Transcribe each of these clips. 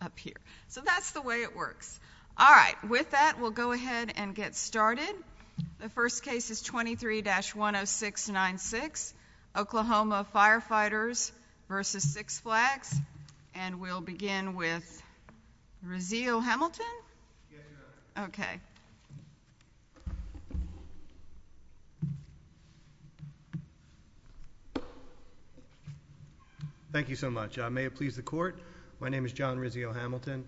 up here. So that's the way it works. All right. With that, we'll go ahead and get started. The first case is 23-10696, Oklahoma Firefighters v. Six Flags. And we'll begin with Rizzo Hamilton. Thank you so much. May it please the Court. My name is John Rizzo Hamilton,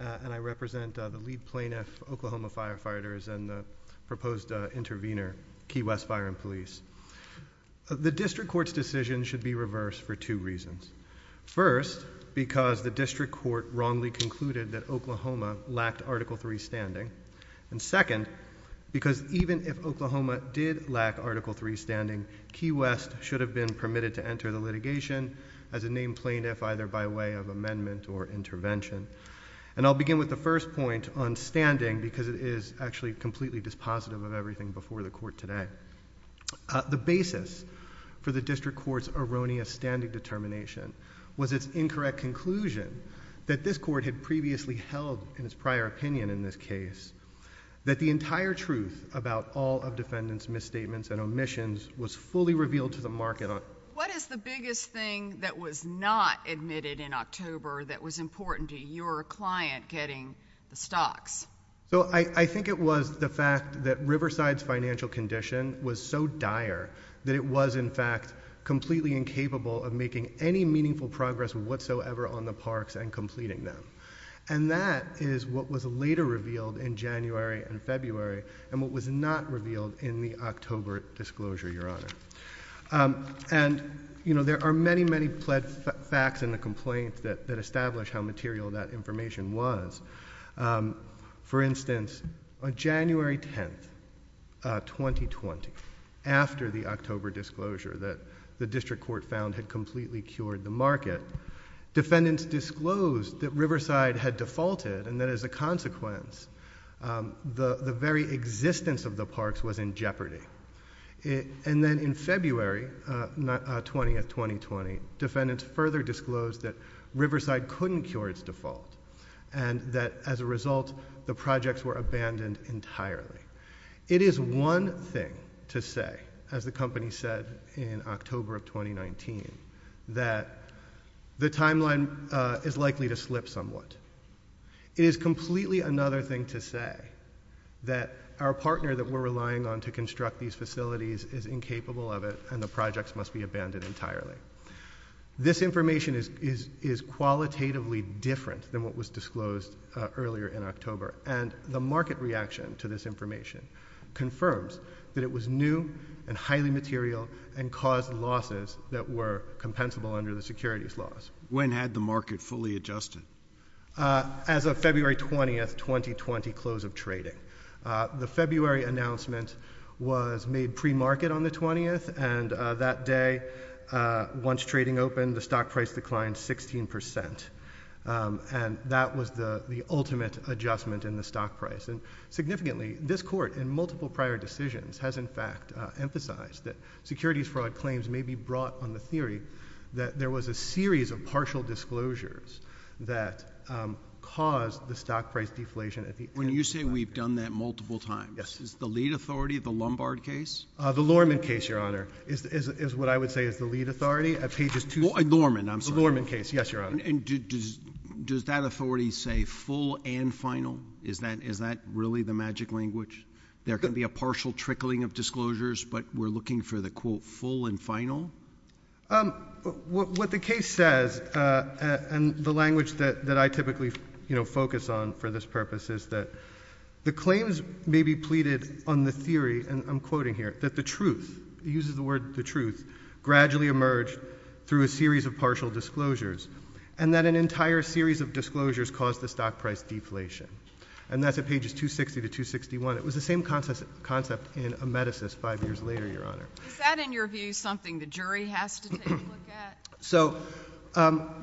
and I represent the lead plaintiff, Oklahoma Firefighters, and the proposed intervener, Key West Fire and Police. The District Court's decision should be reversed for two reasons. First, the District Court wrongly concluded that Oklahoma lacked Article 3 standing. And second, because even if Oklahoma did lack Article 3 standing, Key West should have been permitted to enter the litigation as a named plaintiff, either by way of amendment or intervention. And I'll begin with the first point on standing, because it is actually completely dispositive of everything before the Court today. The basis for the District Court's erroneous standing determination was its incorrect conclusion that this Court had previously held in its prior opinion in this case, that the entire truth about all of defendants' misstatements and omissions was fully revealed to the market. What is the biggest thing that was not admitted in October that was important to your client getting the stocks? So I think it was the fact that Riverside's financial condition was so dire that it was, in fact, completely incapable of making any meaningful progress whatsoever on the parks and completing them. And that is what was later revealed in January and February, and what was not revealed in the October disclosure, Your Honor. And, you know, there are many, many facts in the complaint that establish how material that information was. For instance, on January 10th, 2020, after the October disclosure that the District Court found had completely cured the market, defendants disclosed that Riverside had defaulted, and that as a consequence, the very existence of the parks was in jeopardy. And then in February 20th, 2020, defendants further disclosed that Riverside couldn't cure its default, and that as a result, the projects were abandoned entirely. It is one thing to say, as the company said in October of 2019, that the timeline is likely to slip somewhat. It is completely another thing to say that our partner that we're relying on to construct these facilities is incapable of it, and the projects must be abandoned entirely. This information is qualitatively different than what was disclosed earlier in October, and the market reaction to this information confirms that it was new and highly material and caused losses that were compensable under the securities laws. When had the market fully adjusted? As of February 20th, 2020, close of trading. The February announcement was made pre-market on the 20th, and that day, once trading opened, the stock price declined 16 percent, and that was the ultimate adjustment in the stock price. And significantly, this Court, in multiple prior decisions, has in fact emphasized that securities fraud claims may be brought on the theory that there was a series of partial disclosures that caused the stock price deflation at the end of that period. When you say we've done that multiple times, is the lead authority the Lombard case? The Lorman case, Your Honor, is what I would say is the lead authority. Lorman, I'm sorry. Lorman case, yes, Your Honor. Does that authority say full and final? Is that really the magic language? There can be a partial trickling of disclosures, but we're looking for the quote full and final? What the case says, and the language that I typically focus on for this purpose is that the claims may be pleaded on the theory, and I'm quoting here, that the truth, he uses the word pleaded on the theory, is that there was a series of partial disclosures, and that an entire series of disclosures caused the stock price deflation. And that's at pages 260 to 261. It was the same concept in Amedesis five years later, Your Honor. Is that, in your view, something the jury has to take a look at? So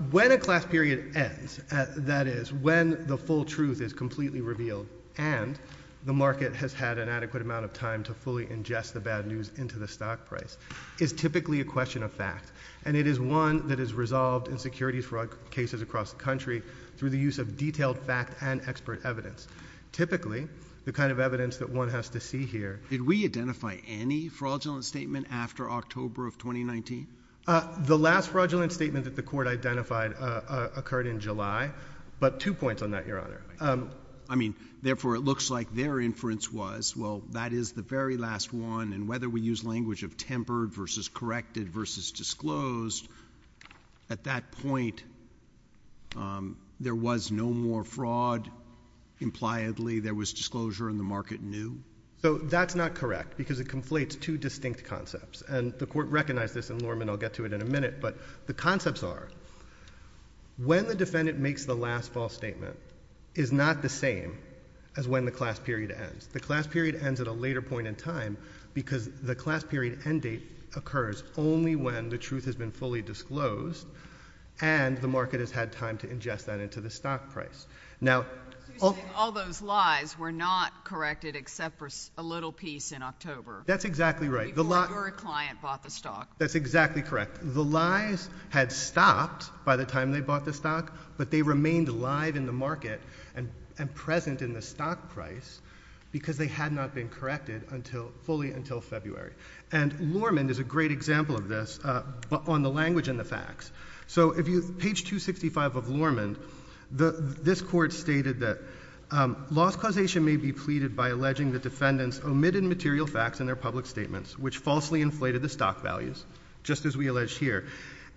when a class period ends, that is, when the full truth is completely revealed, and the market has had an adequate amount of time to fully ingest the bad news into the stock price, is typically a question of fact. And it is one that is resolved in securities fraud cases across the country through the use of detailed fact and expert evidence. Typically, the kind of evidence that one has to see here— Did we identify any fraudulent statement after October of 2019? The last fraudulent statement that the Court identified occurred in July, but two points on that, Your Honor. I mean, therefore, it looks like their inference was, well, that is the very last one, and whether we use language of tempered versus corrected versus disclosed, at that point there was no more fraud. Impliedly, there was disclosure, and the market knew. So that's not correct, because it conflates two distinct concepts. And the Court recognized this, and, Norman, I'll get to it in a minute, but the concepts are, when the defendant makes the last false statement is not the same as when the class period ends. The class period ends at a later point in time, because the class period end date occurs only when the truth has been fully disclosed, and the market has had time to ingest that into the stock price. Now— All those lies were not corrected except for a little piece in October. That's exactly right. Before your client bought the stock. That's exactly correct. The lies had stopped by the time they bought the stock, but they had not been corrected fully until February. And Lorman is a great example of this on the language and the facts. So if you—page 265 of Lorman, this Court stated that, loss causation may be pleaded by alleging the defendant's omitted material facts in their public statements, which falsely inflated the stock values, just as we allege here,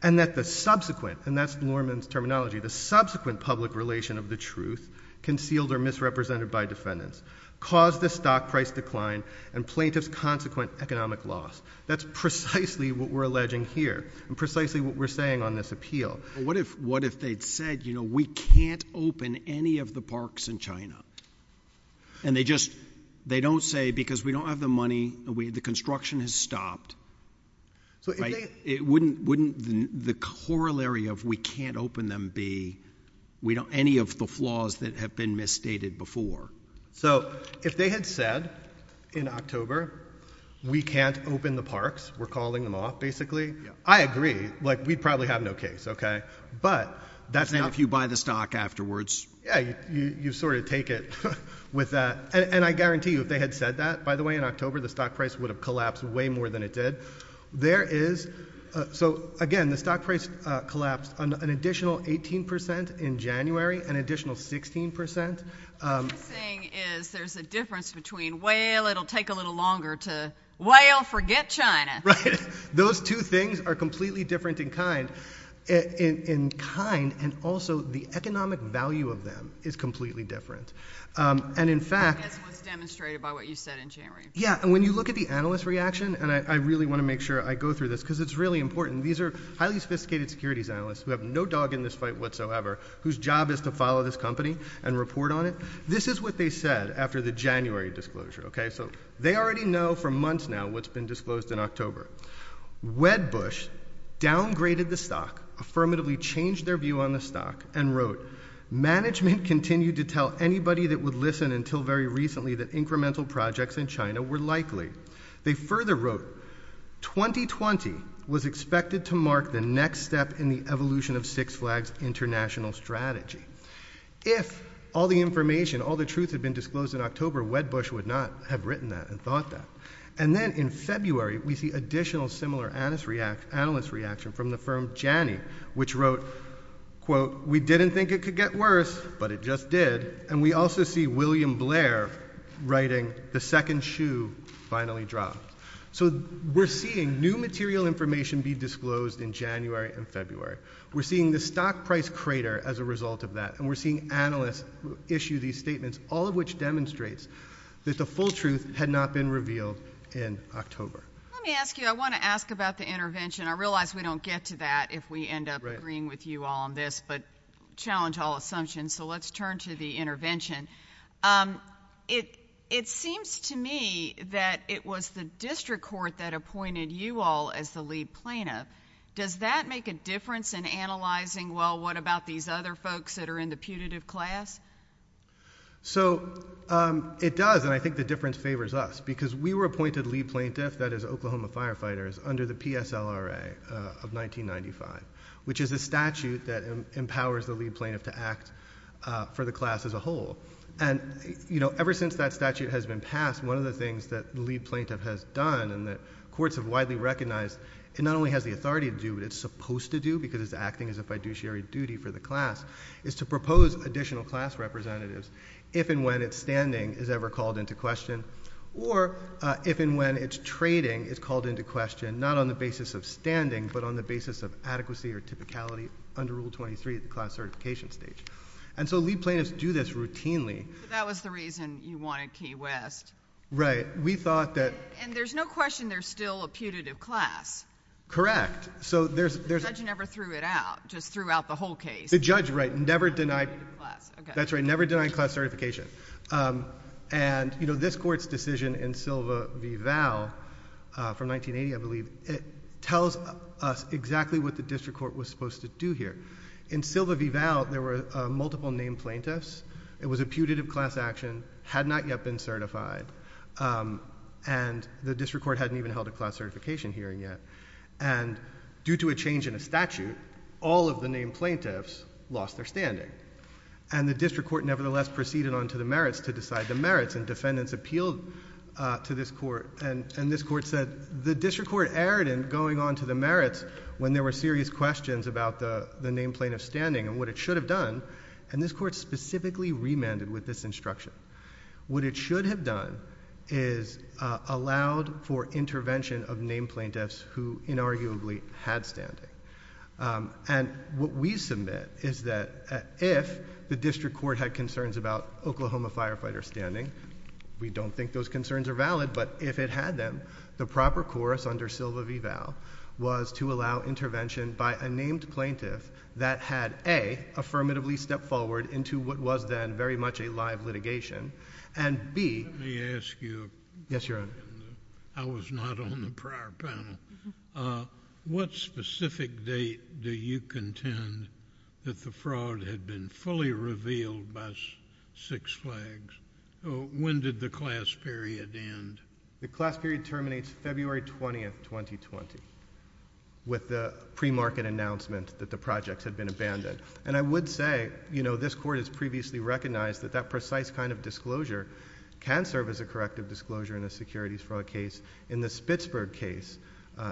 and that the subsequent—and that's Lorman's terminology—the subsequent public relation of the truth, concealed or in fact declined, and plaintiff's consequent economic loss. That's precisely what we're alleging here, and precisely what we're saying on this appeal. What if—what if they'd said, you know, we can't open any of the parks in China? And they just—they don't say, because we don't have the money, the construction has stopped. So if they— Wouldn't—wouldn't the corollary of we can't open them be any of the flaws that have been misstated before? So if they had said in October, we can't open the parks, we're calling them off, basically, I agree. Like, we'd probably have no case, okay? But— That's not if you buy the stock afterwards. Yeah, you sort of take it with that. And I guarantee you, if they had said that, by the way, in October, the stock price would have collapsed way more than it did. There is—so again, the stock price collapsed an additional 18 percent in January, an additional 16 percent— What I'm saying is there's a difference between, well, it'll take a little longer to, well, forget China. Right. Those two things are completely different in kind. In kind, and also the economic value of them is completely different. And in fact— I guess what's demonstrated by what you said in January. Yeah, and when you look at the analyst reaction, and I really want to make sure I go through this because it's really important. These are highly sophisticated securities analysts who have no dog in this fight whatsoever, whose job is to follow this company and report on it. This is what they said after the January disclosure, okay? So they already know for months now what's been disclosed in October. Wedbush downgraded the stock, affirmatively changed their view on the stock, and wrote, management continued to tell anybody that would listen until very recently that incremental projects in China were likely. They further wrote, 2020 was expected to mark the next step in the evolution of Six Flags' international strategy. If all the information, all the truth had been disclosed in October, Wedbush would not have written that and thought that. And then in February, we see additional similar analyst reaction from the firm Janny, which wrote, quote, we didn't think it could get worse, but it just did. And we also see William Blair writing, the second shoe finally dropped. So we're seeing new material information be disclosed in January and February. We're seeing the stock price crater as a result of that, and we're seeing analysts issue these statements, all of which demonstrates that the full truth had not been revealed in October. Let me ask you, I want to ask about the intervention. I realize we don't get to that if we end up agreeing with you all on this, but challenge all assumptions, so let's turn to the intervention. It seems to me that it was the district court that appointed you all as the lead plaintiff. Does that make a difference in analyzing, well, what about these other folks that are in the putative class? So it does, and I think the difference favors us, because we were appointed lead plaintiff, that is Oklahoma Firefighters, under the PSLRA of 1995, which is a statute that empowers the lead plaintiff to act for the class as a whole. And, you know, ever since that statute has been passed, one of the things that the lead plaintiff has done and that courts have the authority to do, and it's supposed to do because it's acting as a fiduciary duty for the class, is to propose additional class representatives if and when it's standing is ever called into question, or if and when it's trading is called into question, not on the basis of standing, but on the basis of adequacy or typicality under Rule 23 at the class certification stage. And so lead plaintiffs do this routinely. That was the reason you wanted Key West. Right. We thought that... And there's no question there's still a putative class. Correct. So there's... The judge never threw it out, just threw out the whole case. The judge, right, never denied... Class, okay. That's right, never denied class certification. And, you know, this Court's decision in Silva v. Val, from 1980, I believe, it tells us exactly what the district court was supposed to do here. In Silva v. Val, there were multiple named plaintiffs. It was a putative class action, had not yet been certified, and the district court hadn't even held a class certification hearing yet. And due to a change in a statute, all of the named plaintiffs lost their standing. And the district court nevertheless proceeded on to the merits to decide the merits, and defendants appealed to this Court, and this Court said the district court erred in going on to the merits when there were serious questions about the named plaintiffs' standing and what it should have done, and this Court specifically remanded with this instruction. What it should have done is allowed for intervention of named plaintiffs who, inarguably, had standing. And what we submit is that if the district court had concerns about Oklahoma firefighters' standing, we don't think those concerns are valid, but if it had them, the proper course under Silva v. Val was to allow intervention by a named plaintiff that had, A, affirmatively stepped forward into what was then very much a live litigation, and B... Let me ask you... Yes, Your Honor. I was not on the prior panel. What specific date do you contend that the fraud had been fully revealed by Six Flags? When did the class period end? The class period terminates February 20, 2020, with the premarket announcement that the project had been abandoned. And I would say, you know, this Court has previously recognized that that precise kind of disclosure can serve as a corrective disclosure in a securities fraud case. In the Spitzberg case,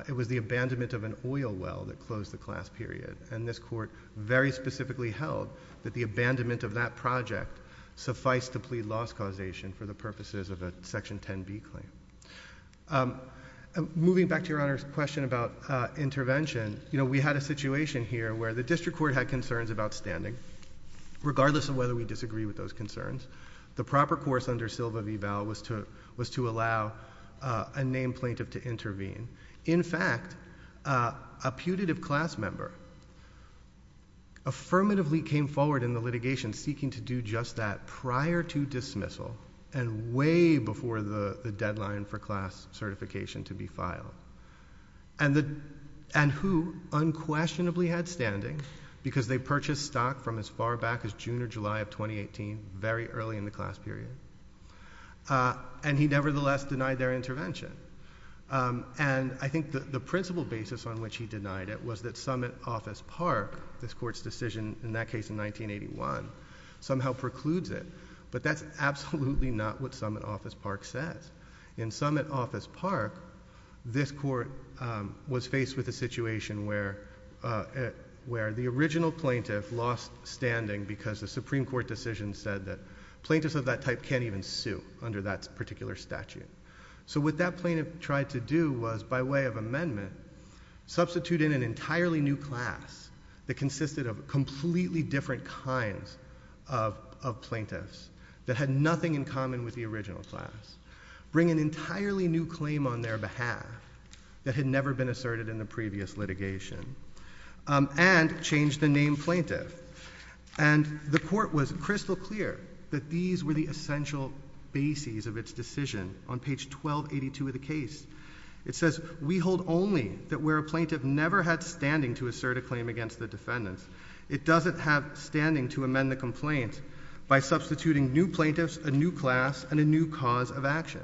it was the abandonment of an oil well that closed the class period, and this Court very specifically held that the abandonment of that project sufficed to plead loss causation for the purposes of a Section 10b claim. Moving back to Your Honor's question about intervention, you know, we had a situation here where the District Court had concerns about standing, regardless of whether we disagree with those concerns. The proper course under Silva v. Bell was to allow a named plaintiff to intervene. In fact, a putative class member affirmatively came forward in the litigation seeking to do just that prior to dismissal, and way before the deadline for class certification to be filed. And who unquestionably had standing, because they purchased stock from as far back as June or July of 2018, very early in the class period. And he nevertheless denied their intervention. And I think the principal basis on which he denied it was that Summit Office Park, this Court's decision in that case in 1981, somehow precludes it. But that's absolutely not what Summit Office Park says. In Summit Office Park, this Court was faced with a situation where the original plaintiff lost standing because the Supreme Court decision said that plaintiffs of that type can't even sue under that particular statute. So what that plaintiff tried to do was, by way of amendment, substitute in an entirely new class that consisted of plaintiffs in common with the original class. Bring an entirely new claim on their behalf that had never been asserted in the previous litigation. And change the name plaintiff. And the Court was crystal clear that these were the essential bases of its decision on page 1282 of the case. It says, we hold only that where a plaintiff never had standing to assert a claim against the defendants, it doesn't have standing to amend the complaint by substituting new plaintiffs, a new class, and a new cause of action.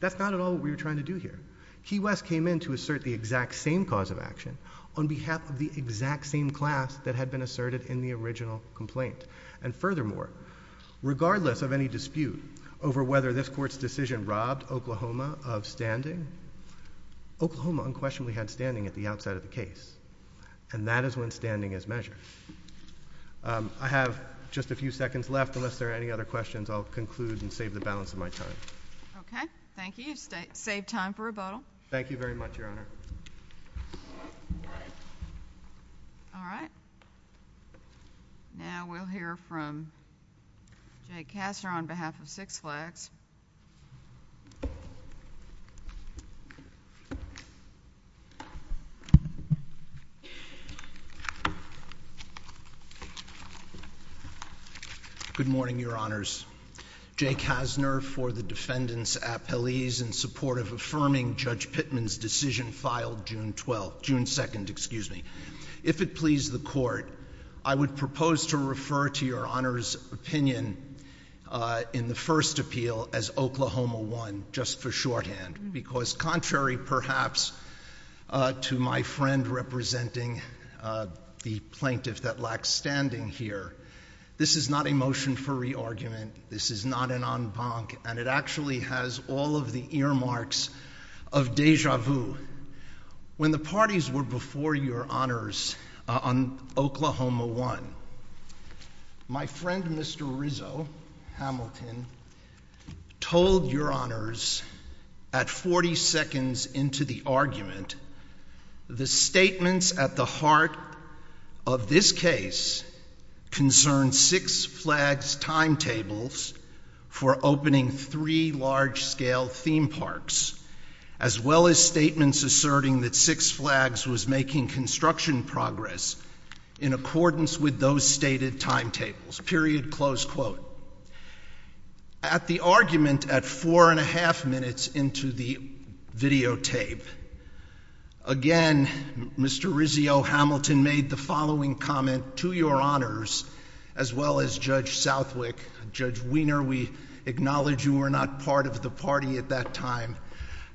That's not at all what we were trying to do here. Key West came in to assert the exact same cause of action on behalf of the exact same class that had been asserted in the original complaint. And furthermore, regardless of any dispute over whether this Court's decision robbed Oklahoma of standing, Oklahoma unquestionably had standing at the outset of the case. And that is when the Court decided to go through with the case. I see a few seconds left. Unless there are any other questions, I will conclude and save the balance of my time. Okay. Thank you. You saved time for rebuttal. Thank you very much, Your Honor. All right. Now we'll hear from Jay Kassner on behalf of Six Flags. Good morning, Your Honors. Jay Kassner for the Defendant's Appellees in support of affirming Judge Pittman's decision filed June 2nd. If it please the Court, I would propose to refer to Your Honor's opinion in the first appeal as Oklahoma 1, just for shorthand, because contrary, perhaps, to my friend representing the plaintiff that lacks standing here, this is not a motion for re-argument, this is not an en banc, and it actually has all of the earmarks of deja vu. When the parties were before Your Honors on Oklahoma 1, my friend Mr. Rizzo, Hamilton, told Your Honors, at 40 seconds into the argument, the statements at the heart of this case concerned Six Flags' timetables for opening three large-scale theme parks, as well as statements asserting that Six Flags was making construction progress in accordance with those stated timetables, period, close quote. At the argument, at four and a half minutes into the videotape, again, Mr. Rizzo, Hamilton made the following comment to Your Honors, as well as Judge Southwick, Judge Wiener, we acknowledge you were not part of the party at that time,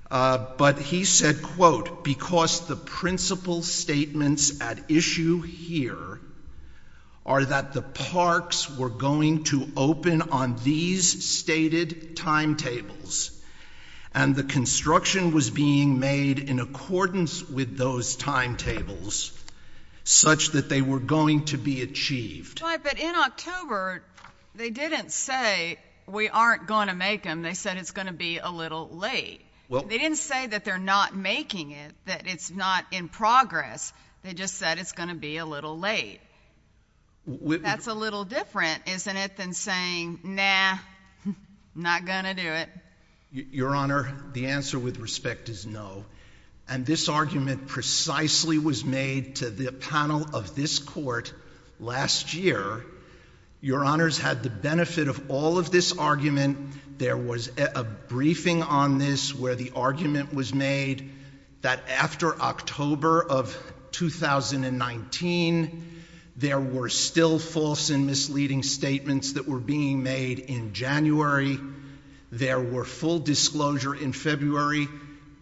but he said, quote, because the principal statements at issue here are that the parks were going to open on these stated timetables, and the construction was being made in accordance with those timetables, such that they were going to be achieved. Right, but in October, they didn't say, we aren't going to make them, they said it's going to be a little late. They didn't say that they're not making it, that it's not in progress, they just said it's going to be a little late. That's a little different, isn't it, than saying, nah, not going to do it. Your Honor, the answer with respect is no, and this argument precisely was made to the panel of this Court last year. Your Honors had the benefit of all of this argument. There was a briefing on this where the argument was made that after October of 2019, there were still false and misleading statements that were being made in January. There were full disclosure in February.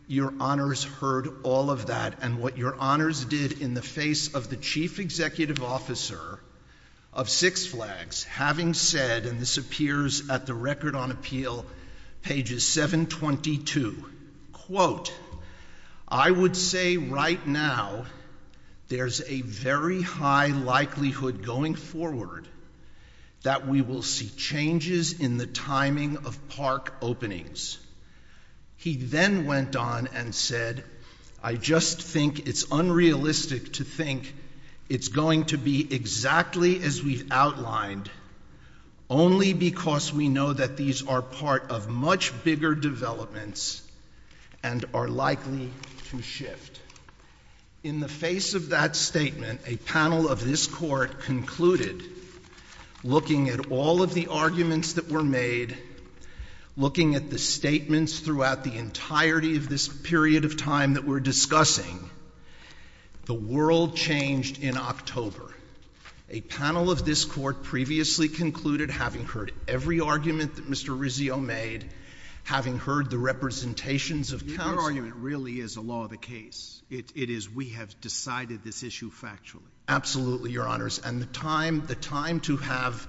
Your Honors heard all of that, and what Your Honors did in the face of the Chief Executive Officer of Six Flags having said, and this appears at the Record on Appeal, pages 722, quote, I would say right now there's a very high likelihood going forward that we will see changes in the timing of park openings. He then went on and said, I just think it's unrealistic to think it's going to be exactly as we've outlined only because we know that these are part of much bigger developments and are likely to shift. In the face of that statement, a panel of this Court concluded, looking at all of the statements throughout the entirety of this period of time that we're discussing, the world changed in October. A panel of this Court previously concluded, having heard every argument that Mr. Rizzio made, having heard the representations of counsel— Your argument really is a law of the case. It is we have decided this issue factually. Absolutely, Your Honors, and the time to have—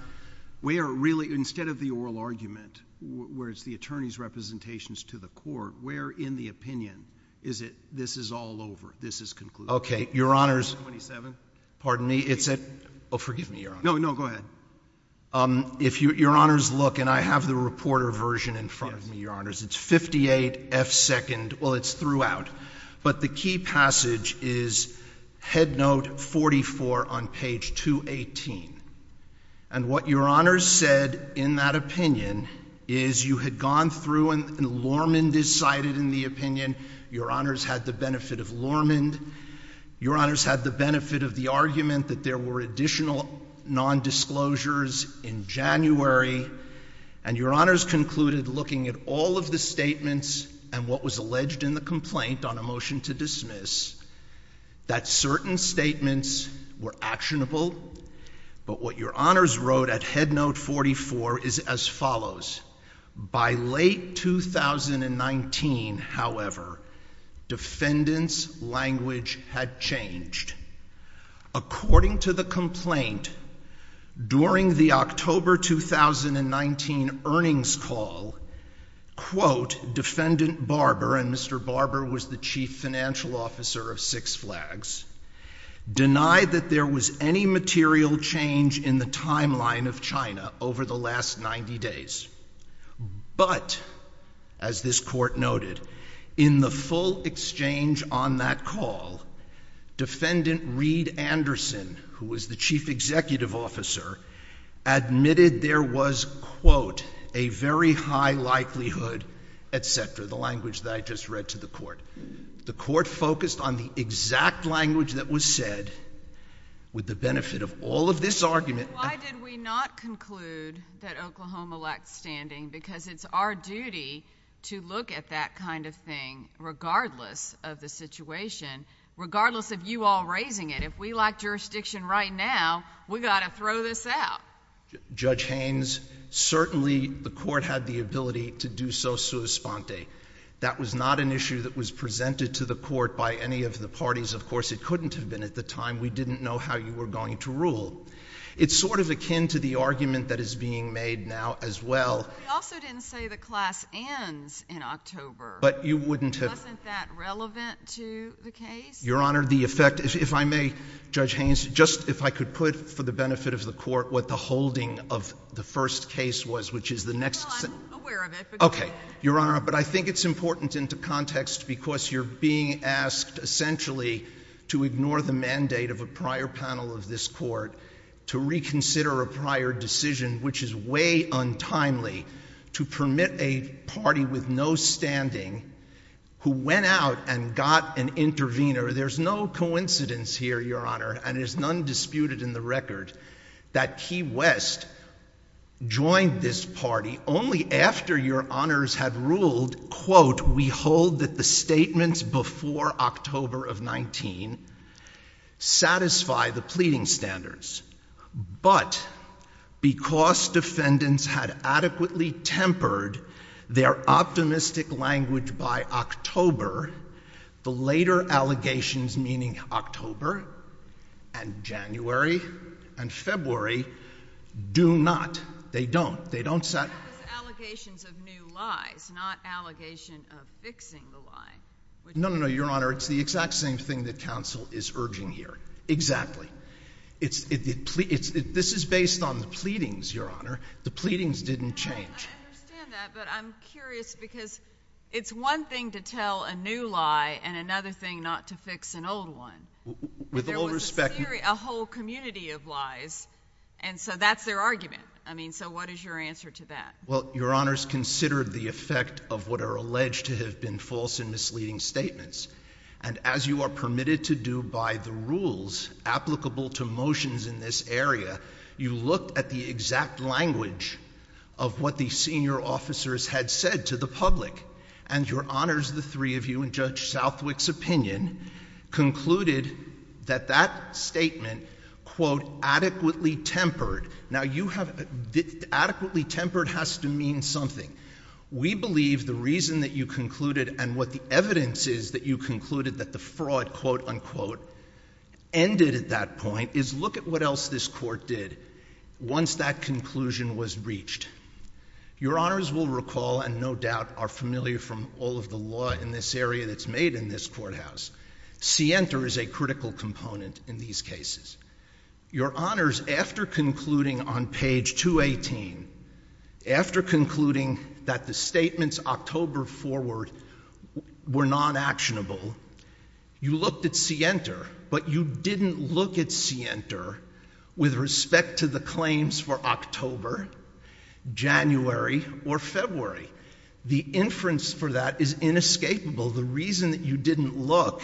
Instead of the oral argument, where it's the attorney's representations to the Court, where in the opinion is it this is all over, this is concluded? Your Honors, if you look, and I have the reporter version in front of me, Your Honors, it's 58F2, well, it's throughout, but the key passage is headnote 44 on page 218, and what Your Honors said in that opinion is you had gone through and Lormond is cited in the opinion. Your Honors had the benefit of Lormond. Your Honors had the benefit of the argument that there were additional nondisclosures in January, and Your Honors concluded, looking at all of the statements and what was alleged in the complaint on a motion to dismiss, that certain statements were actionable, but what Your Honors wrote at headnote 44 is as follows. By late 2019, however, defendant's language had changed. According to the complaint, during the October 2019 earnings call, quote, defendant Barber—and Mr. Barber was the chief financial officer of Six Flags—denied that there was any material change in the timeline of China over the last 90 days, but as this Court noted, in the full exchange on that call, defendant Reed Anderson, who was the chief executive officer, admitted there was, quote, a very high likelihood, et cetera, the language that I just read to the Court. The Court focused on the exact language that was said with the benefit of all of this argument— And why did we not conclude that Oklahoma lacked standing? Because it's our duty to look at that kind of thing regardless of the situation, regardless of you all raising it. If we lack jurisdiction right now, we've got to throw this out. Judge Haynes, certainly the Court had the ability to do so sua sponte. That was not an issue that was presented to the Court by any of the parties. Of course, it couldn't have been at the time. We didn't know how you were going to rule. It's sort of akin to the argument that is being made now as well— But you also didn't say the class ends in October. But you wouldn't have— Wasn't that relevant to the case? Your Honor, the effect—if I may, Judge Haynes, just if I could put for the benefit of the Court what the holding of the first case was, which is the next— Well, I'm aware of it, but go ahead. Okay, Your Honor, but I think it's important into context because you're being asked essentially to ignore the mandate of a prior panel of this Court to reconsider a prior decision, which is way untimely, to permit a party with no standing who went out and got an intervener. There's no coincidence here, Your Honor, and there's none disputed in the record, that After your Honors had ruled, quote, we hold that the statements before October of 19 satisfy the pleading standards, but because defendants had adequately tempered their optimistic language by October, the later allegations, meaning October and January and February, do not. They don't. They don't— No, it was allegations of new lies, not allegations of fixing the lie. No, no, no, Your Honor, it's the exact same thing that counsel is urging here, exactly. This is based on the pleadings, Your Honor. The pleadings didn't change. I understand that, but I'm curious because it's one thing to tell a new lie and another thing not to fix an old one. With all respect— There was a whole community of lies, and so that's their argument. I mean, so what is your answer to that? Well, Your Honors, consider the effect of what are alleged to have been false and misleading statements, and as you are permitted to do by the rules applicable to motions in this area, you look at the exact language of what the senior officers had said to the public, and Your Honors, the three of you, in Judge Southwick's opinion, concluded that that statement, quote, adequately tempered. Now, adequately tempered has to mean something. We believe the reason that you concluded, and what the evidence is that you concluded that the fraud, quote, unquote, ended at that point, is look at what else this court did once that conclusion was reached. Your Honors will recall, and no doubt are familiar from all of the law in this area that's made in this courthouse, scienter is a critical component in these cases. Your Honors, after concluding on page 218, after concluding that the statements October forward were non-actionable, you looked at scienter, but you didn't look at scienter with respect to the claims for October, January, or February. The inference for that is inescapable. The reason that you didn't look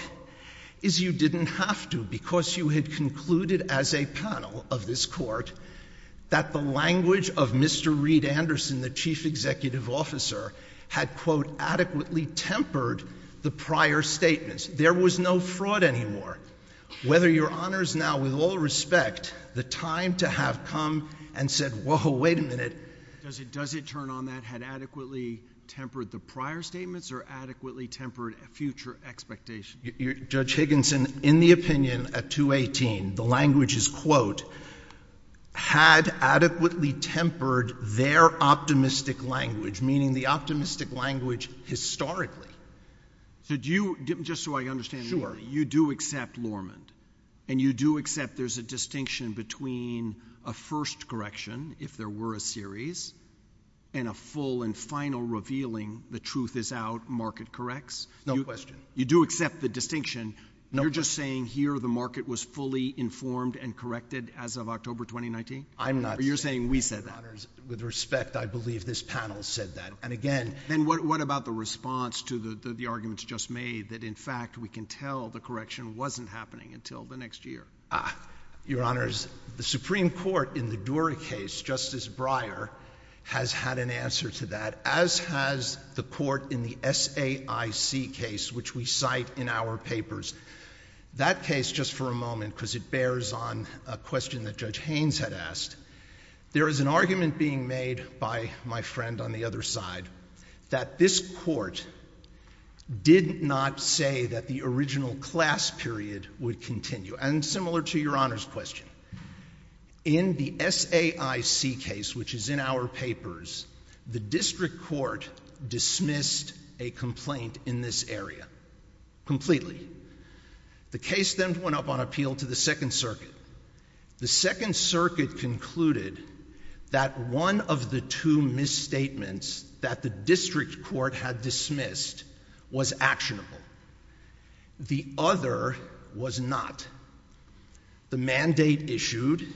is you didn't have to, because you had concluded as a panel of this court that the language of Mr. Reed Anderson, the chief executive officer, had, quote, adequately tempered the prior statements. There was no fraud anymore. Whether Your Honors now, with all respect, the time to have come and said, whoa, wait a minute, does it turn on that, had adequately tempered the prior statements, or adequately tempered future expectations? Judge Higginson, in the opinion at 218, the language is, quote, had adequately tempered their optimistic language, meaning the optimistic language historically. So do you, just so I understand, you do accept Lorman, and you do accept there's a distinction between a first correction, if there were a series, and a full and final revealing the mistakes? No question. You do accept the distinction. No question. You're just saying here the market was fully informed and corrected as of October 2019? I'm not saying that. Or you're saying we said that? Your Honors, with respect, I believe this panel said that. And again— Then what about the response to the arguments just made that, in fact, we can tell the correction wasn't happening until the next year? Your Honors, the Supreme Court in the Dura case, Justice Breyer, has had an answer to that, as has the court in the SAIC case, which we cite in our papers. That case, just for a moment, because it bears on a question that Judge Haynes had asked, there is an argument being made by my friend on the other side that this court did not say that the original class period would continue. And similar to Your Honors' question, in the SAIC case, which is in our papers, the District Court dismissed a complaint in this area completely. The case then went up on appeal to the Second Circuit. The Second Circuit concluded that one of the two misstatements that the District Court had dismissed was actionable. The other was not. The mandate issued,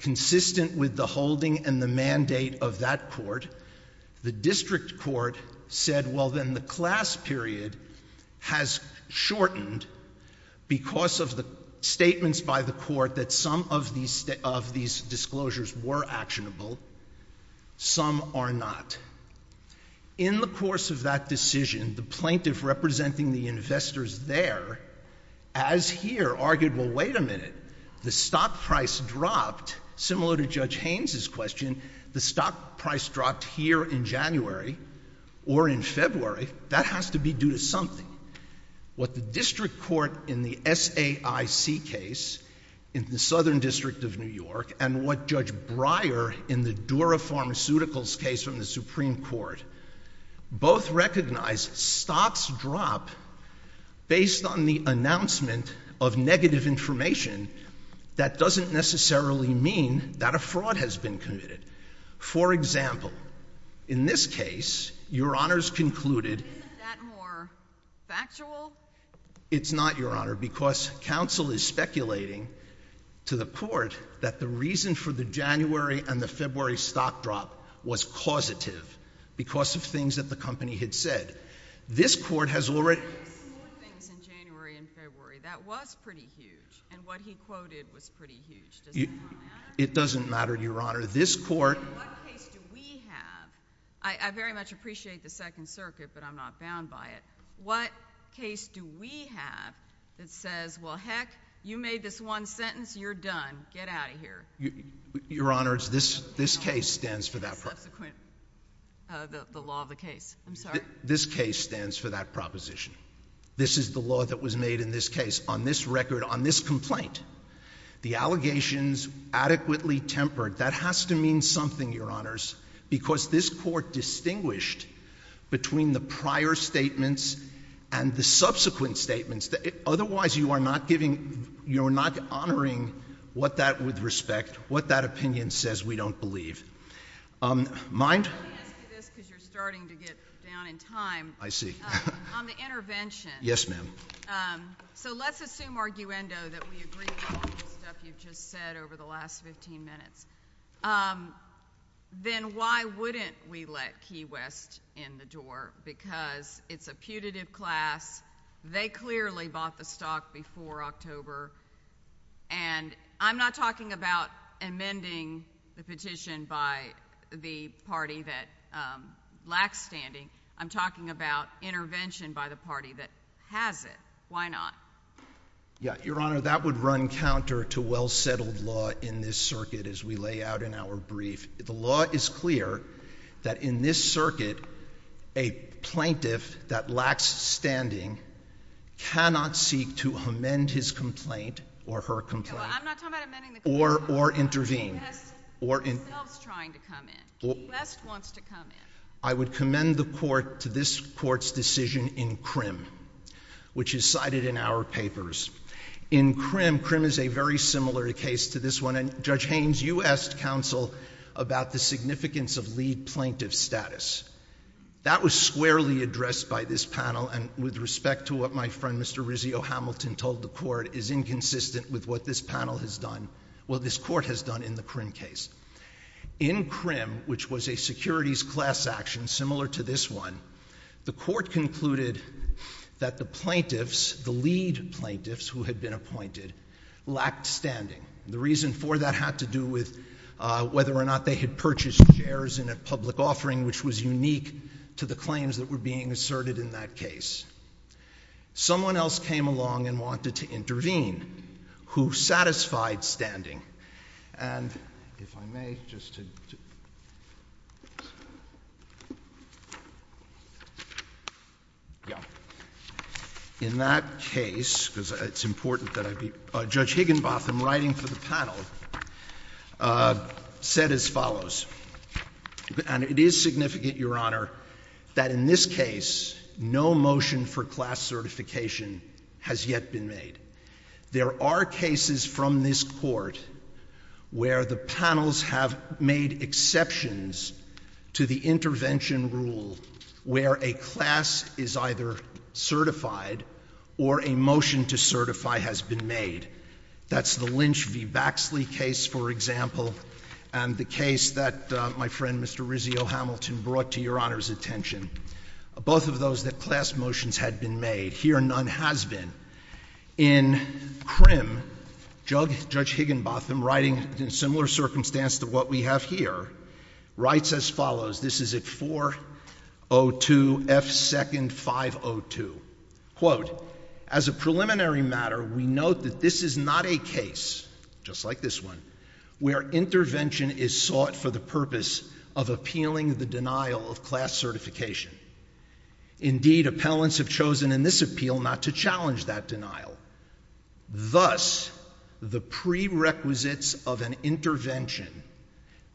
consistent with the holding and the mandate of that court, the District Court said, well, then the class period has shortened because of the statements by the court that some of these disclosures were actionable, some are not. In the course of that decision, the plaintiff representing the investors there, as here, argued, well, wait a minute, the stock price dropped, similar to Judge Haynes' question, the stock price dropped here in January or in February. That has to be due to something. What the District Court in the SAIC case, in the Southern District of New York, and what Judge Breyer, in the Dura Pharmaceuticals case from the Supreme Court, both recognized stocks drop based on the announcement of negative information that doesn't necessarily mean that a fraud has been committed. For example, in this case, Your Honors concluded — Isn't that more factual? It's not, Your Honor, because counsel is speculating to the court that the reason for the January and the February stock drop was causative because of things that the company had said. This court has already — There were some more things in January and February. That was pretty huge, and what he quoted was pretty huge. Does that not matter? It doesn't matter, Your Honor. This court — In what case do we have — I very much appreciate the Second Circuit, but I'm not bound by it — what case do we have that says, well, heck, you made this one sentence, you're done, get out of here? Your Honors, this case stands for that — Subsequent — the law of the case, I'm sorry. This case stands for that proposition. This is the law that was made in this case on this record, on this complaint. The allegations adequately tempered — that has to mean something, Your Honors, because this court distinguished between the prior statements and the subsequent statements. Otherwise, you are not honoring what that, with respect, what that opinion says we don't believe. Mind? Let me ask you this, because you're starting to get down in time. I see. On the intervention — Yes, ma'am. So let's assume, arguendo, that we agree with all the stuff you've just said over the last 15 minutes. Then why wouldn't we let Key West in the door, because it's a putative class. They clearly bought the stock before October. And I'm not talking about amending the petition by the party that lacks standing. I'm talking about intervention by the party that has it. Why not? Yeah, Your Honor, that would run counter to well-settled law in this circuit. As we lay out in our brief, the law is clear that in this circuit, a plaintiff that lacks standing cannot seek to amend his complaint or her complaint — No, I'm not talking about amending the complaint. — or intervene. Key West himself is trying to come in. Key West wants to come in. I would commend the court to this court's decision in Krim, which is cited in our papers. In Krim — Krim is a very similar case to this one — and Judge Haynes, you asked counsel about the significance of lead plaintiff status. That was squarely addressed by this panel, and with respect to what my friend Mr. Rizzio Hamilton told the court is inconsistent with what this panel has done — well, this court has done in the Krim case. In Krim, which was a securities class action similar to this one, the court concluded that the plaintiffs, the lead plaintiffs who had been appointed, lacked standing. The reason for that had to do with whether or not they had purchased shares in a public offering which was unique to the claims that were being asserted in that case. Someone else came along and wanted to intervene who satisfied standing, and if I may, just to — yeah. In that case, because it's important that I be — Judge Higginbotham, writing for the panel, said as follows — and it is significant, Your Honor, that in this case, no motion for class certification has yet been made. There are cases from this court where the panels have made exceptions to the intervention rule where a class is either certified or a motion to certify has been made. That's the Lynch v. Baxley case, for example, and the case that my friend Mr. Rizzio Hamilton brought to Your Honor's attention. Both of those, the class motions had been made. Here, none has been. In CRIM, Judge Higginbotham, writing in similar circumstance to what we have here, writes as follows. This is at 402 F. 2nd 502, quote, as a preliminary matter, we note that this is not a case, just like this one, where intervention is sought for the purpose of appealing the denial of class certification. Indeed, appellants have chosen in this appeal not to challenge that denial. Thus, the prerequisites of an intervention,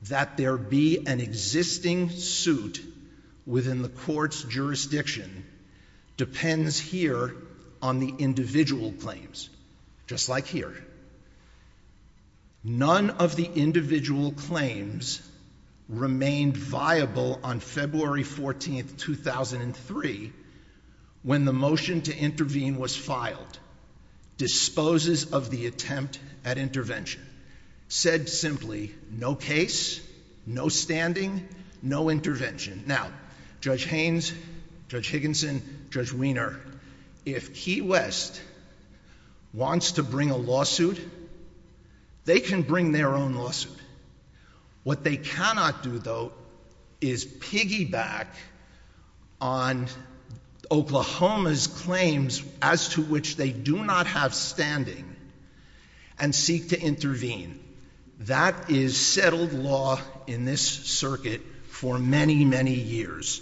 that there be an existing suit within the court's jurisdiction, depends here on the individual claims, just like here. None of the individual claims remained viable on February 14, 2003, when the motion to intervene was filed, disposes of the attempt at intervention. Said simply, no case, no standing, no intervention. Now, Judge Haynes, Judge Higginson, Judge Weiner, if Key West wants to bring a lawsuit, they can bring their own lawsuit. What they cannot do, though, is piggyback on Oklahoma's claims, as to which they do not have standing, and seek to intervene. That is settled law in this circuit for many, many years.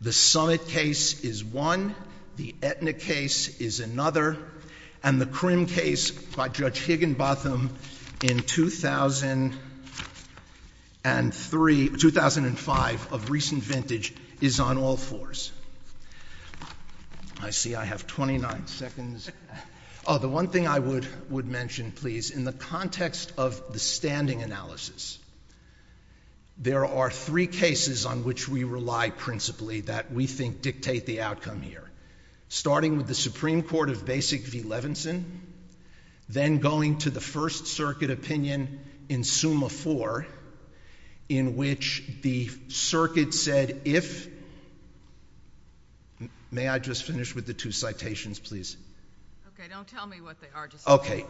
The Summit case is one, the Aetna case is another, and the Crim case by Judge Higginbotham in 2003, 2005, of recent vintage, is on all fours. I see I have 29 seconds. Oh, the one thing I would mention, please, in the context of the standing analysis, there are three cases on which we rely principally, that we think dictate the outcome here. Starting with the Supreme Court of Basic v. Levinson, then going to the First Circuit opinion in Summa IV, in which the circuit said, if—may I just finish with the two Okay, don't tell me what they are, just— Okay,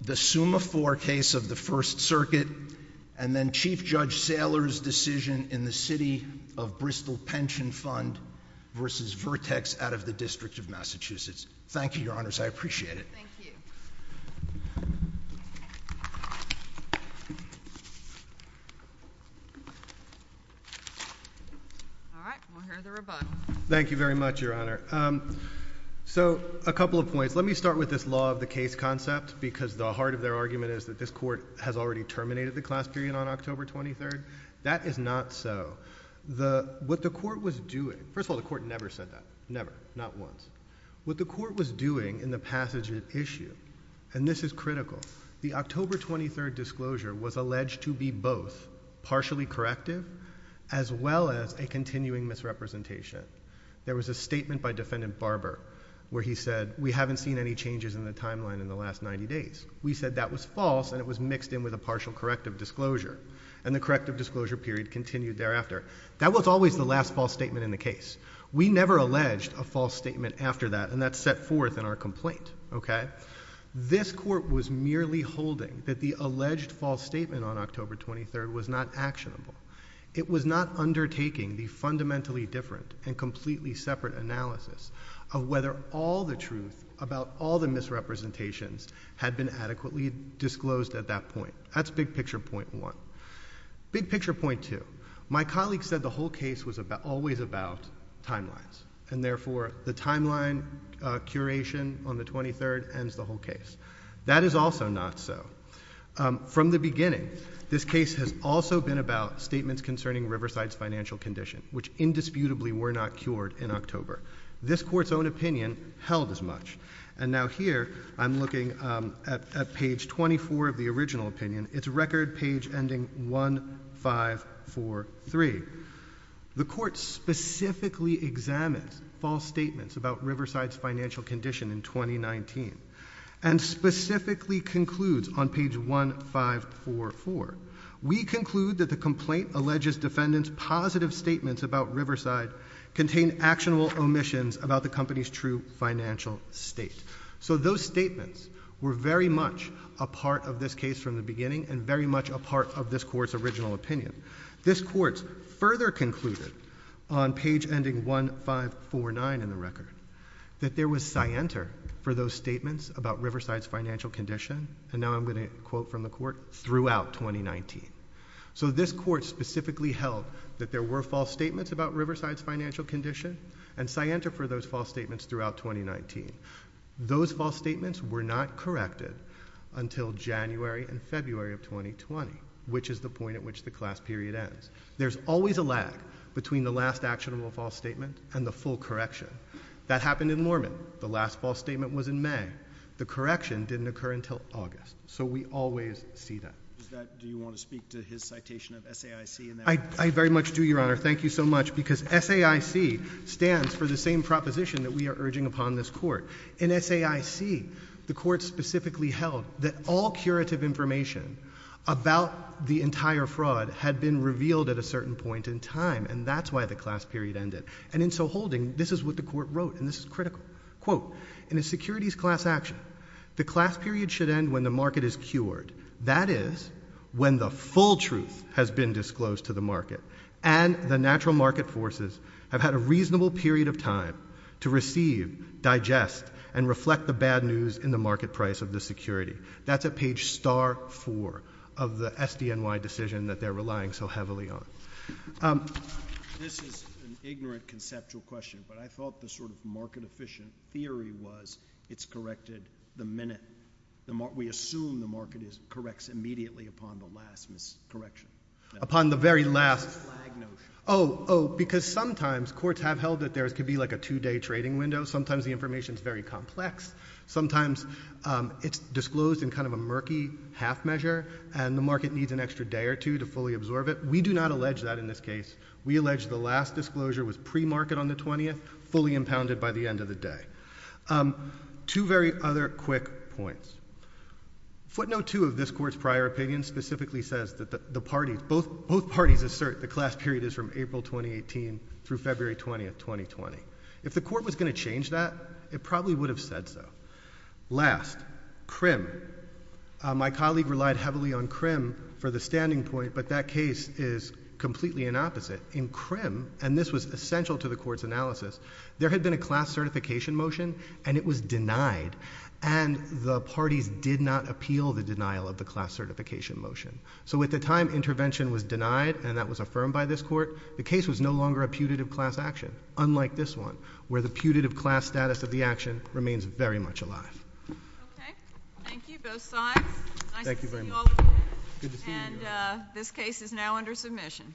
the Summa IV case of the First Circuit, and then Chief Judge Saylor's decision in the City of Bristol Pension Fund v. Vertex out of the District of Massachusetts. Thank you, Your Honors. I appreciate it. Thank you. All right, we'll hear the rebuttal. Thank you very much, Your Honor. So, a couple of points. Let me start with this law of the case concept, because the heart of their argument is that this court has already terminated the class period on October 23rd. That is not so. What the court was doing—first of all, the court never said that, never, not once. What the court was doing in the passage of the issue, and this is critical, the October 23rd disclosure was alleged to be both partially corrective, as well as a continuing misrepresentation. There was a statement by Defendant Barber where he said, we haven't seen any changes in the timeline in the last 90 days. We said that was false, and it was mixed in with a partial corrective disclosure, and the corrective disclosure period continued thereafter. That was always the last false statement in the case. We never alleged a false statement after that, and that's set forth in our complaint, okay? This court was merely holding that the alleged false statement on October 23rd was not actionable. It was not undertaking the fundamentally different and completely separate analysis of whether all the truth about all the misrepresentations had been adequately disclosed at that point. That's big picture point one. Big picture point two. My colleague said the whole case was always about timelines, and therefore, the timeline curation on the 23rd ends the whole case. That is also not so. From the beginning, this case has also been about statements concerning Riverside's financial condition, which indisputably were not cured in October. This court's own opinion held as much. And now here, I'm looking at page 24 of the original opinion. It's record page ending one, five, four, three. The court specifically examines false statements about Riverside's financial condition in 2019. And specifically concludes on page one, five, four, four. We conclude that the complaint alleges defendant's positive statements about Riverside contain actionable omissions about the company's true financial state. So those statements were very much a part of this case from the beginning, and very much a part of this court's original opinion. This court further concluded on page ending one, five, four, nine in the record. That there was scienter for those statements about Riverside's financial condition, and now I'm going to quote from the court, throughout 2019. So this court specifically held that there were false statements about Riverside's financial condition, and scienter for those false statements throughout 2019. Those false statements were not corrected until January and February of 2020, which is the point at which the class period ends. There's always a lag between the last actionable false statement and the full correction. That happened in Mormon. The last false statement was in May. The correction didn't occur until August. So we always see that. Is that, do you want to speak to his citation of SAIC in that? I very much do, your honor. Thank you so much, because SAIC stands for the same proposition that we are urging upon this court. In SAIC, the court specifically held that all curative information about the entire fraud had been revealed at a certain point in time, and that's why the class period ended. And in so holding, this is what the court wrote, and this is critical. Quote, in a securities class action, the class period should end when the market is cured. That is, when the full truth has been disclosed to the market. And the natural market forces have had a reasonable period of time to receive, digest, and reflect the bad news in the market price of the security. That's at page star four of the SDNY decision that they're relying so heavily on. This is an ignorant conceptual question, but I thought the sort of market efficient theory was it's corrected the minute. We assume the market corrects immediately upon the last miscorrection. Upon the very last- It's a flag notion. Oh, because sometimes courts have held that there could be like a two day trading window. Sometimes the information's very complex. Sometimes it's disclosed in kind of a murky half measure, and the market needs an extra day or two to fully absorb it. We do not allege that in this case. We allege the last disclosure was pre-market on the 20th, fully impounded by the end of the day. Two very other quick points, footnote two of this court's prior opinion specifically says that both parties assert the class period is from April 2018 through February 20th, 2020. If the court was going to change that, it probably would have said so. Last, CRIM. My colleague relied heavily on CRIM for the standing point, but that case is completely an opposite. In CRIM, and this was essential to the court's analysis, there had been a class certification motion and it was denied. And the parties did not appeal the denial of the class certification motion. So at the time intervention was denied and that was affirmed by this court, the case was no longer a putative class action. Unlike this one, where the putative class status of the action remains very much alive. Okay, thank you both sides. Nice to see you all again, and this case is now under submission.